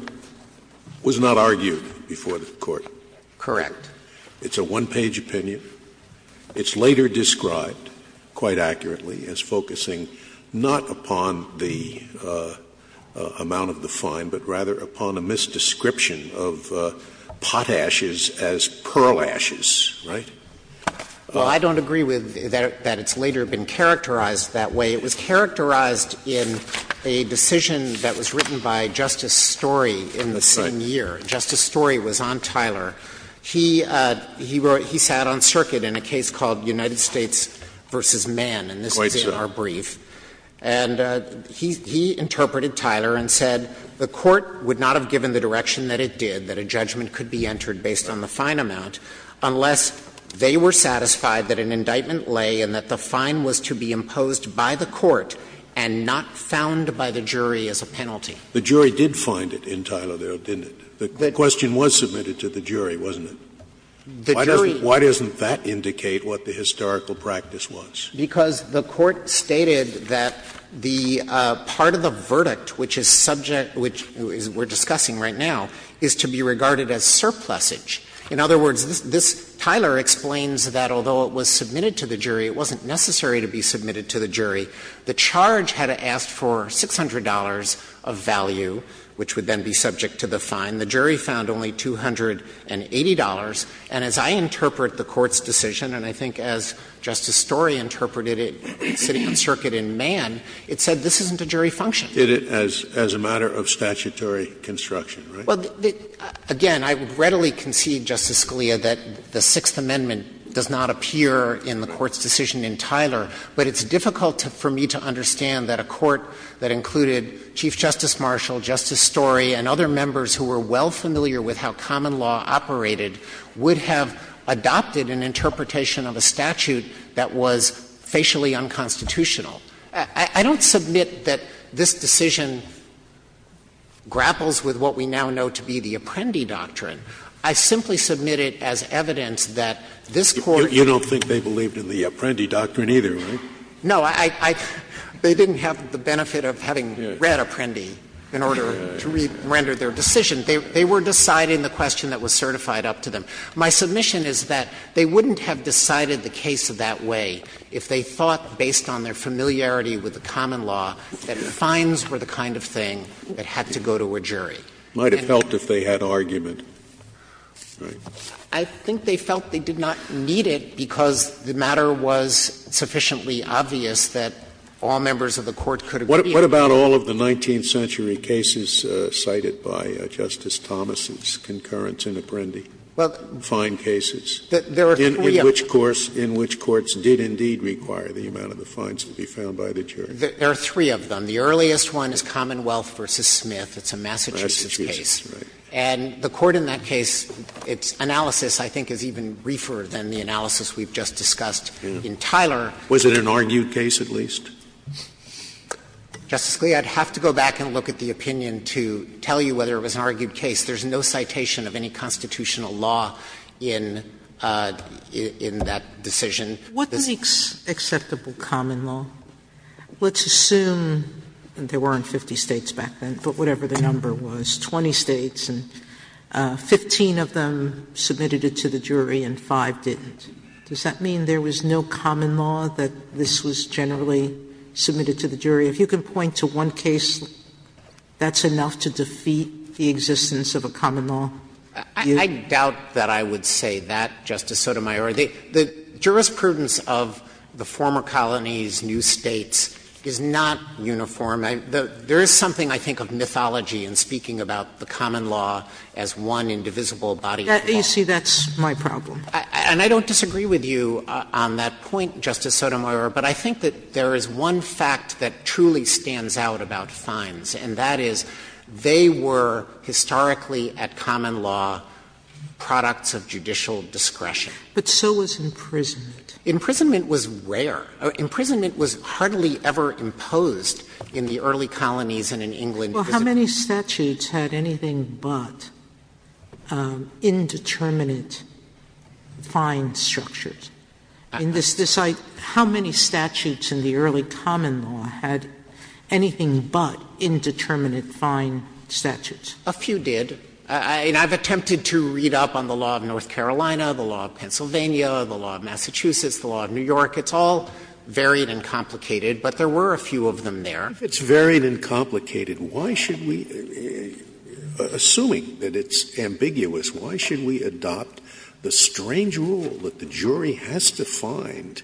was not argued before the Court. Dreeben Correct. Scalia It's a one-page opinion. It's later described, quite accurately, as focusing not upon the amount of the fine, but rather upon a misdescription of pot ashes as pearl ashes, right? Dreeben Well, I don't agree with that it's later been characterized that way. It was characterized in a decision that was written by Justice Story in the same year. Justice Story was on Tyler. He wrote he sat on circuit in a case called United States v. Mann, and this is in our brief. And he interpreted Tyler and said the Court would not have given the direction that it did, that a judgment could be entered based on the fine amount, unless they were satisfied that an indictment lay and that the fine was to be imposed by the Court and not found by the jury as a penalty. Scalia The jury did find it in Tyler, though, didn't it? The question was submitted to the jury, wasn't it? Dreeben The jury Scalia Why doesn't that indicate what the historical practice was? Dreeben Because the Court stated that the part of the verdict which is subject to the fine, which we're discussing right now, is to be regarded as surplusage. In other words, this Tyler explains that although it was submitted to the jury, it wasn't necessary to be submitted to the jury. The charge had asked for $600 of value, which would then be subject to the fine. The jury found only $280, and as I interpret the Court's decision, and I think as Justice Story interpreted it sitting on circuit in Mann, it said this isn't a jury function. Scalia Did it as a matter of statutory construction, right? Dreeben Well, again, I would readily concede, Justice Scalia, that the Sixth Amendment does not appear in the Court's decision in Tyler, but it's difficult for me to understand that a court that included Chief Justice Marshall, Justice Story, and other members who were well familiar with how common law operated would have adopted an interpretation of a statute that was facially unconstitutional. I don't submit that this decision grapples with what we now know to be the Apprendi Doctrine. I simply submit it as evidence that this Court — Scalia You don't think they believed in the Apprendi Doctrine either, right? Dreeben No, I — they didn't have the benefit of having read Apprendi in order to re-render their decision. They were deciding the question that was certified up to them. My submission is that they wouldn't have decided the case that way if they thought based on their familiarity with the common law that fines were the kind of thing that had to go to a jury. Scalia Might have felt if they had argument, right? Dreeben I think they felt they did not need it because the matter was sufficiently obvious that all members of the Court could agree on it. Scalia What about all of the 19th century cases cited by Justice Thomas's concurrence in Apprendi? Fine cases? Dreeben Well, there are three of them. Scalia And there are three cases in which courts did indeed require the amount of the fines to be found by the jury. Dreeben There are three of them. The earliest one is Commonwealth v. Smith. It's a Massachusetts case. Scalia Massachusetts, right. Dreeben And the Court in that case, its analysis I think is even briefer than the analysis we've just discussed in Tyler. Scalia Was it an argued case at least? Dreeben Justice Scalia, I'd have to go back and look at the opinion to tell you whether it was an argued case. There is no citation of any constitutional law in that decision. Sotomayor What is the acceptable common law? Let's assume there weren't 50 States back then, but whatever the number was, 20 States, and 15 of them submitted it to the jury and 5 didn't. Does that mean there was no common law that this was generally submitted to the jury? If you can point to one case that's enough to defeat the existence of a common law? Dreeben I doubt that I would say that, Justice Sotomayor. The jurisprudence of the former colonies, new States, is not uniform. There is something I think of mythology in speaking about the common law as one indivisible body of law. Sotomayor You see, that's my problem. Dreeben And I don't disagree with you on that point, Justice Sotomayor, but I think that there is one fact that truly stands out about fines, and that is they were historically at common law products of judicial discretion. Sotomayor But so was imprisonment. Dreeben Imprisonment was rare. Imprisonment was hardly ever imposed in the early colonies and in England. Sotomayor Well, how many statutes had anything but indeterminate fine structures? How many statutes in the early common law had anything but indeterminate fine statutes? Dreeben A few did. And I've attempted to read up on the law of North Carolina, the law of Pennsylvania, the law of Massachusetts, the law of New York. It's all varied and complicated, but there were a few of them there. Scalia If it's varied and complicated, why should we, assuming that it's ambiguous, why should we adopt the strange rule that the jury has to find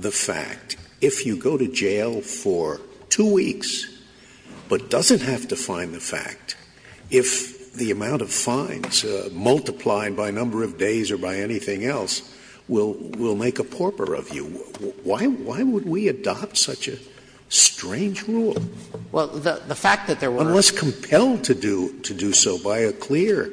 the fact, if you go to jail for two weeks but doesn't have to find the fact, if the amount of fines multiplied by number of days or by anything else will make a pauper of you? Why would we adopt such a strange rule? Dreeben Well, the fact that there were. Scalia And one was compelled to do so by a clear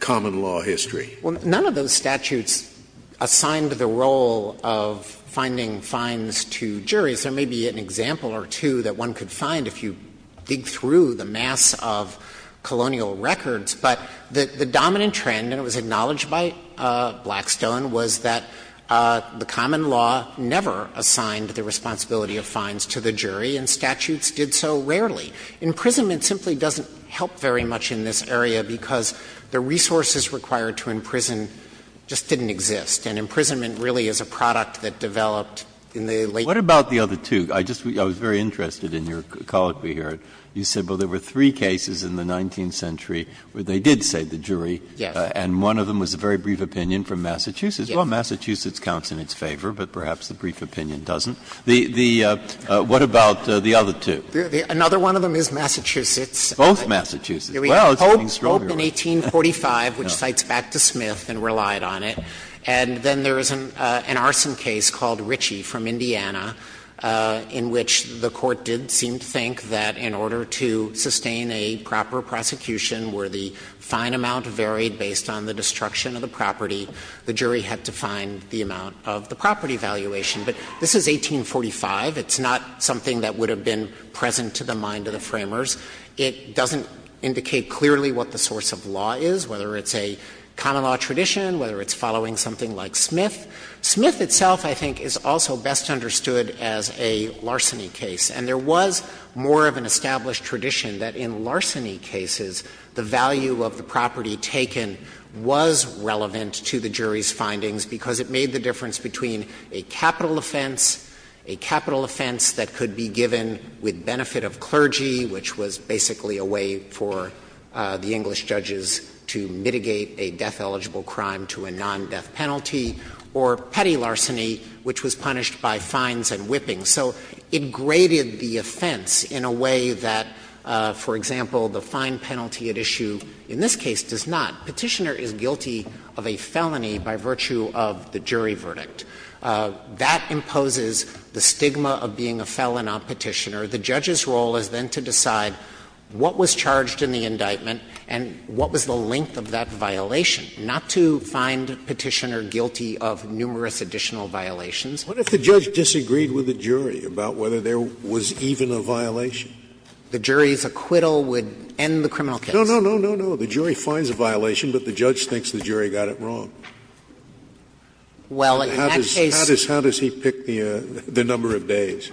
common law history. Dreeben Well, none of those statutes assigned the role of finding fines to juries. There may be an example or two that one could find if you dig through the mass of colonial records. But the dominant trend, and it was acknowledged by Blackstone, was that the common law never assigned the responsibility of fines to the jury, and statutes did so rarely. Imprisonment simply doesn't help very much in this area, because the resources required to imprison just didn't exist, and imprisonment really is a product that developed in the late. Breyer What about the other two? I just was very interested in your colloquy here. You said, well, there were three cases in the 19th century where they did save the jury, and one of them was a very brief opinion from Massachusetts. Well, Massachusetts counts in its favor, but perhaps the brief opinion doesn't. The — what about the other two? Dreeben Another one of them is Massachusetts. Breyer Both Massachusetts. Well, it's getting stronger. Dreeben There was Hope in 1845, which cites back to Smith and relied on it. And then there is an arson case called Ritchie from Indiana, in which the Court did seem to think that in order to sustain a proper prosecution where the fine amount varied based on the destruction of the property, the jury had to find the amount of the property valuation. But this is 1845. It's not something that would have been present to the mind of the framers. It doesn't indicate clearly what the source of law is, whether it's a common law tradition, whether it's following something like Smith. Smith itself, I think, is also best understood as a larceny case. And there was more of an established tradition that in larceny cases, the value of the property taken was relevant to the jury's findings because it made the difference between a capital offense, a capital offense that could be given with benefit of clergy, which was basically a way for the English judges to mitigate a death-eligible crime to a non-death penalty, or petty larceny, which was punished by fines and whippings. So it graded the offense in a way that, for example, the fine penalty at issue in this case does not. Petitioner is guilty of a felony by virtue of the jury verdict. That imposes the stigma of being a felon on Petitioner. The judge's role is then to decide what was charged in the indictment and what was the length of that violation, not to find Petitioner guilty of numerous additional violations. Scalia What if the judge disagreed with the jury about whether there was even a violation? Dreeben The jury's acquittal would end the criminal case. Scalia No, no, no, no, no. The jury finds a violation, but the judge thinks the jury got it wrong. Dreeben Well, in that case the jury finds a violation, but the judge thinks the jury got it wrong. Scalia How does he pick the number of days?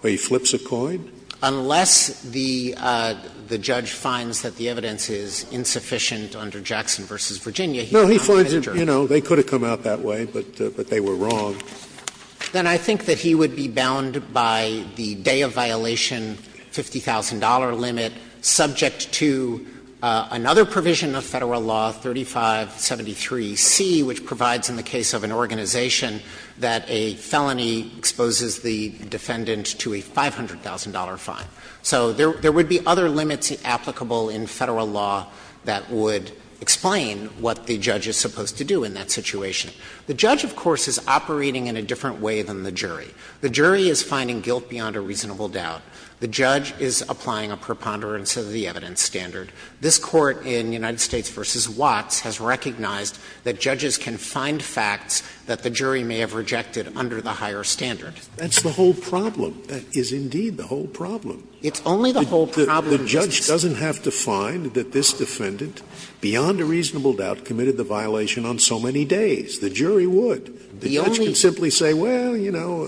Where he flips a coin? Dreeben Unless the judge finds that the evidence is insufficient under Jackson v. Virginia, he finds the jury. Scalia No, he finds it, you know, they could have come out that way, but they were wrong. Dreeben Then I think that he would be bound by the day of violation, $50,000 limit subject to another provision of Federal Law 3573C, which provides in the case of an organization that a felony exposes the defendant to a $500,000 fine. So there would be other limits applicable in Federal Law that would explain what the judge is supposed to do in that situation. The judge, of course, is operating in a different way than the jury. The jury is finding guilt beyond a reasonable doubt. The judge is applying a preponderance of the evidence standard. This Court in United States v. Watts has recognized that judges can find facts that the jury may have rejected under the higher standard. Scalia That's the whole problem. That is indeed the whole problem. Dreeben It's only the whole problem. Scalia The judge doesn't have to find that this defendant, beyond a reasonable doubt, committed the violation on so many days. The jury would. The judge can simply say, well, you know,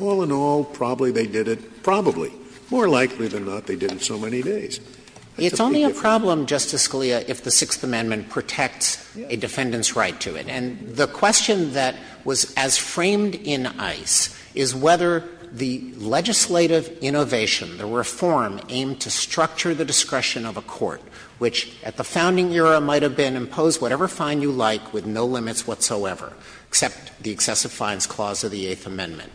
all in all, probably they did it. Probably. More likely than not, they did it so many days. That's a big difference. Dreeben It's only a problem, Justice Scalia, if the Sixth Amendment protects a defendant's right to it. And the question that was as framed in ICE is whether the legislative innovation, the reform aimed to structure the discretion of a court, which at the founding era might have been impose whatever fine you like with no limits whatsoever, except the excessive fines clause of the Eighth Amendment.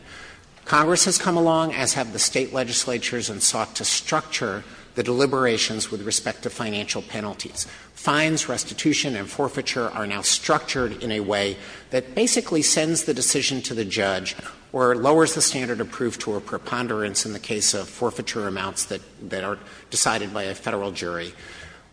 Congress has come along, as have the State legislatures, and sought to structure the deliberations with respect to financial penalties. Fines, restitution, and forfeiture are now structured in a way that basically sends the decision to the judge or lowers the standard of proof to a preponderance in the case of forfeiture amounts that are decided by a Federal jury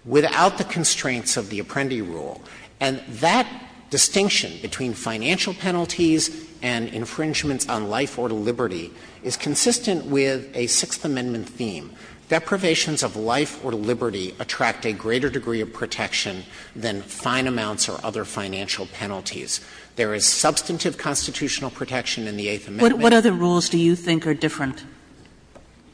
without the constraints of the Apprendi rule. And that distinction between financial penalties and infringements on life or liberty is consistent with a Sixth Amendment theme. Deprivations of life or liberty attract a greater degree of protection than fine amounts or other financial penalties. There is substantive constitutional protection in the Eighth Amendment. Kagan What other rules do you think are different?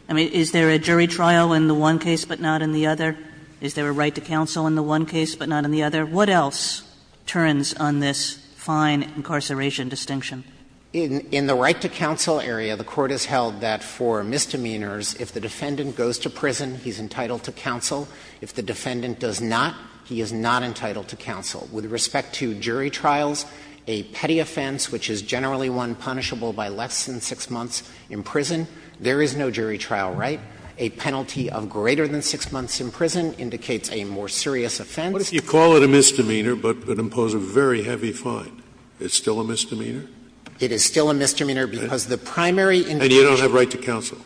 I mean, is there a jury trial in the one case but not in the other? Is there a right to counsel in the one case but not in the other? What else turns on this fine incarceration distinction? Frederick In the right to counsel area, the Court has held that for misdemeanors, if the defendant goes to prison, he's entitled to counsel. If the defendant does not, he is not entitled to counsel. With respect to jury trials, a petty offense, which is generally one punishable by less than 6 months in prison, there is no jury trial right. A penalty of greater than 6 months in prison indicates a more serious offense. Scalia What if you call it a misdemeanor but impose a very heavy fine? Is it still a misdemeanor? Frederick It is still a misdemeanor because the primary indication Scalia And you don't have right to counsel.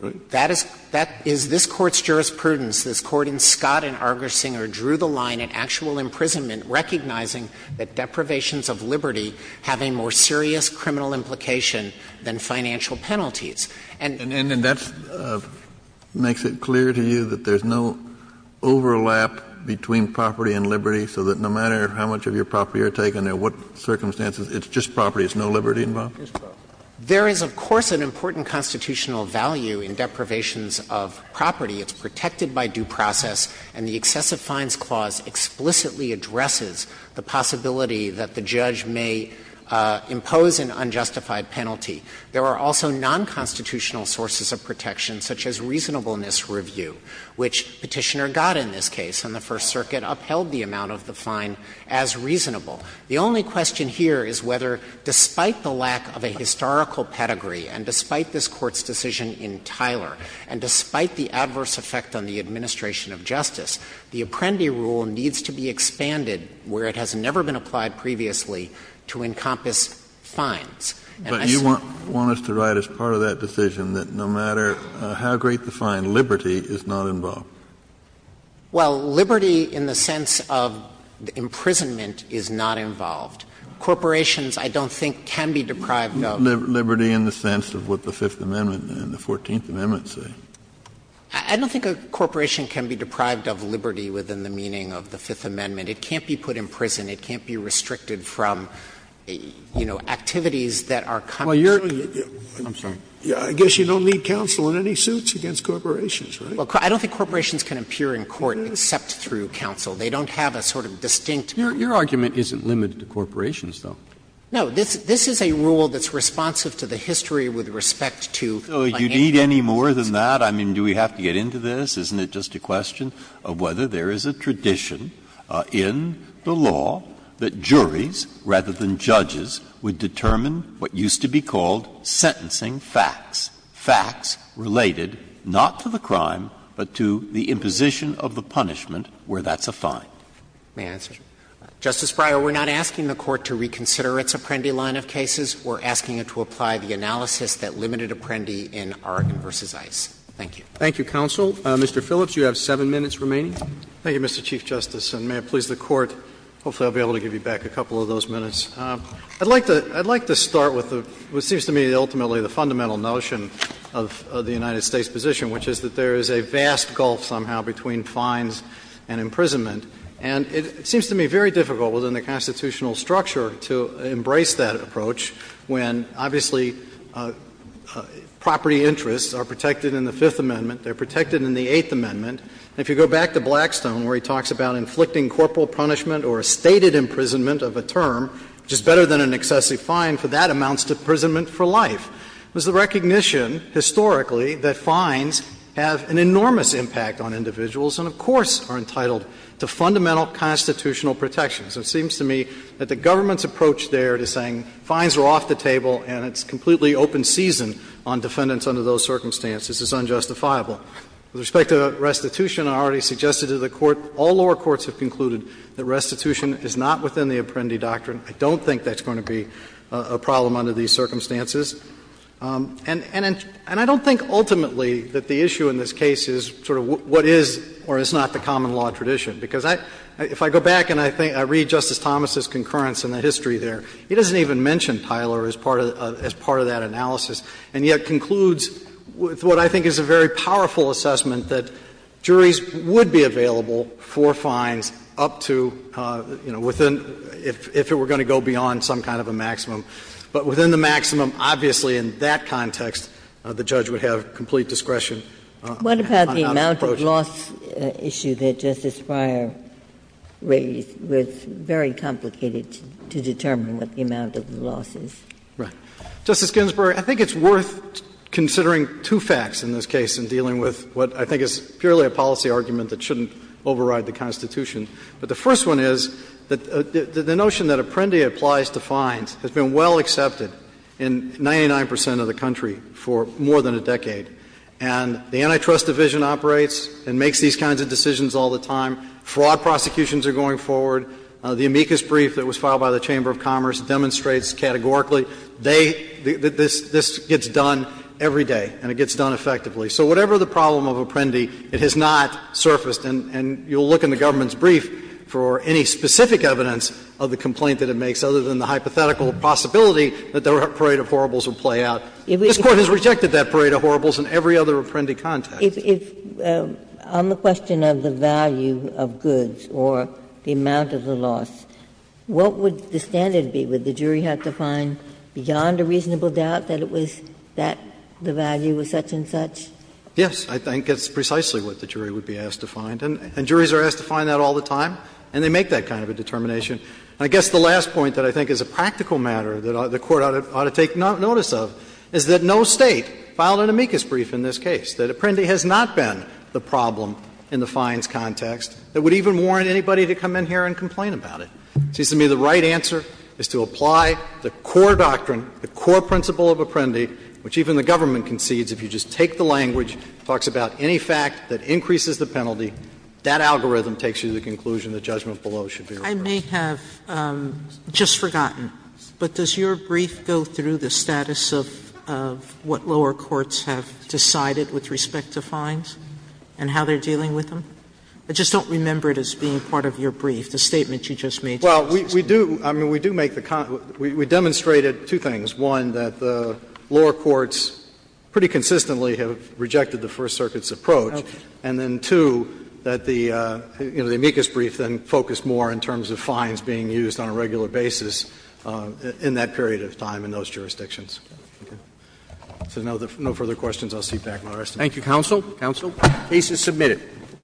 Frederick That is this Court's jurisprudence. This Court in Scott and Argersinger drew the line in actual imprisonment, recognizing that deprivations of liberty have a more serious criminal implication than financial penalties. Kennedy And that makes it clear to you that there's no overlap between property and liberty, so that no matter how much of your property you're taking and under what circumstances, it's just property, there's no liberty involved? Frederick There is, of course, an important constitutional value in deprivations of property. It's protected by due process, and the excessive fines clause explicitly addresses the possibility that the judge may impose an unjustified penalty. There are also nonconstitutional sources of protection, such as reasonableness review, which Petitioner got in this case, and the First Circuit upheld the amount of the fine as reasonable. The only question here is whether, despite the lack of a historical pedigree and despite this Court's decision in Tyler and despite the adverse effect on the administration of justice, the Apprendi rule needs to be expanded where it has never been applied previously to encompass fines. Kennedy But you want us to write as part of that decision that no matter how great the fine, liberty is not involved? Frederick Well, liberty in the sense of imprisonment is not involved. Corporations, I don't think, can be deprived of. Kennedy Liberty in the sense of what the Fifth Amendment and the Fourteenth Amendment say. Frederick I don't think a corporation can be deprived of liberty within the meaning of the Fifth Amendment. It can't be put in prison. It can't be restricted from, you know, activities that are common. Scalia I guess you don't need counsel in any suits against corporations, right? Frederick I don't think corporations can appear in court except through counsel. They don't have a sort of distinct. Roberts Your argument isn't limited to corporations, though. Frederick No. This is a rule that's responsive to the history with respect to financial institutions. Breyer You need any more than that? I mean, do we have to get into this? Isn't it just a question of whether there is a tradition in the law that juries rather than judges would determine what used to be called sentencing facts, facts related not to the crime but to the imposition of the punishment where that's a fine? Frederick May I answer? Justice Breyer, we're not asking the Court to reconsider its Apprendi line of cases. We're asking it to apply the analysis that limited Apprendi in Argon v. Ice. Thank you. Roberts Thank you, counsel. Mr. Phillips, you have seven minutes remaining. Phillips Thank you, Mr. Chief Justice, and may it please the Court, hopefully I'll be able to give you back a couple of those minutes. I'd like to start with what seems to me ultimately the fundamental notion of the United States position, which is that there is a vast gulf somehow between fines and imprisonment. And it seems to me very difficult within the constitutional structure to embrace that approach when obviously property interests are protected in the Fifth Amendment, they're protected in the Eighth Amendment. And if you go back to Blackstone where he talks about inflicting corporal punishment or a stated imprisonment of a term, which is better than an excessive fine for that amount's imprisonment for life, it was the recognition historically that fines have an enormous impact on individuals and, of course, are entitled to fundamental constitutional protections. It seems to me that the government's approach there to saying fines are off the table and it's completely open season on defendants under those circumstances is unjustifiable. With respect to restitution, I already suggested to the Court, all lower courts have concluded that restitution is not within the Apprendi doctrine. I don't think that's going to be a problem under these circumstances. And I don't think ultimately that the issue in this case is sort of what is or is not the common law tradition, because if I go back and I read Justice Thomas' concurrence in the history there, he doesn't even mention Tyler as part of that analysis, and yet concludes with what I think is a very powerful assessment that juries would be available for fines up to, you know, within, if it were going to go beyond some kind of a maximum. But within the maximum, obviously in that context, the judge would have complete discretion on his approach. Ginsburg's loss issue that Justice Breyer raised was very complicated to determine what the amount of the loss is. Right. Justice Ginsburg, I think it's worth considering two facts in this case in dealing with what I think is purely a policy argument that shouldn't override the Constitution. But the first one is that the notion that Apprendi applies to fines has been well accepted in 99 percent of the country for more than a decade. And the Antitrust Division operates and makes these kinds of decisions all the time. Fraud prosecutions are going forward. The amicus brief that was filed by the Chamber of Commerce demonstrates categorically they — this gets done every day, and it gets done effectively. So whatever the problem of Apprendi, it has not surfaced, and you'll look in the government's brief for any specific evidence of the complaint that it makes, other than the hypothetical possibility that the parade of horribles would play out. This Court has rejected that parade of horribles in every other Apprendi context. Ginsburg. If — on the question of the value of goods or the amount of the loss, what would the standard be? Would the jury have to find beyond a reasonable doubt that it was — that the value was such-and-such? Yes, I think that's precisely what the jury would be asked to find. And juries are asked to find that all the time, and they make that kind of a determination. And I guess the last point that I think is a practical matter that the Court ought to take notice of is that no State filed an amicus brief in this case, that Apprendi has not been the problem in the fines context that would even warrant anybody to come in here and complain about it. It seems to me the right answer is to apply the core doctrine, the core principle of Apprendi, which even the government concedes if you just take the language, talks about any fact that increases the penalty, that algorithm takes you to the conclusion the judgment below should be reversed. Sotomayor, I may have just forgotten, but does your brief go through the status of what lower courts have decided with respect to fines and how they're dealing with them? I just don't remember it as being part of your brief, the statement you just made to Justice Sotomayor. Well, we do — I mean, we do make the — we demonstrated two things, one, that the lower courts pretty consistently have rejected the First Circuit's approach, and then, two, that the, you know, the amicus brief then focused more in terms of fines being used on a regular basis in that period of time in those jurisdictions. So no further questions. I'll cede back, Mr. Chief Justice. Thank you, counsel. Counsel. The case is submitted.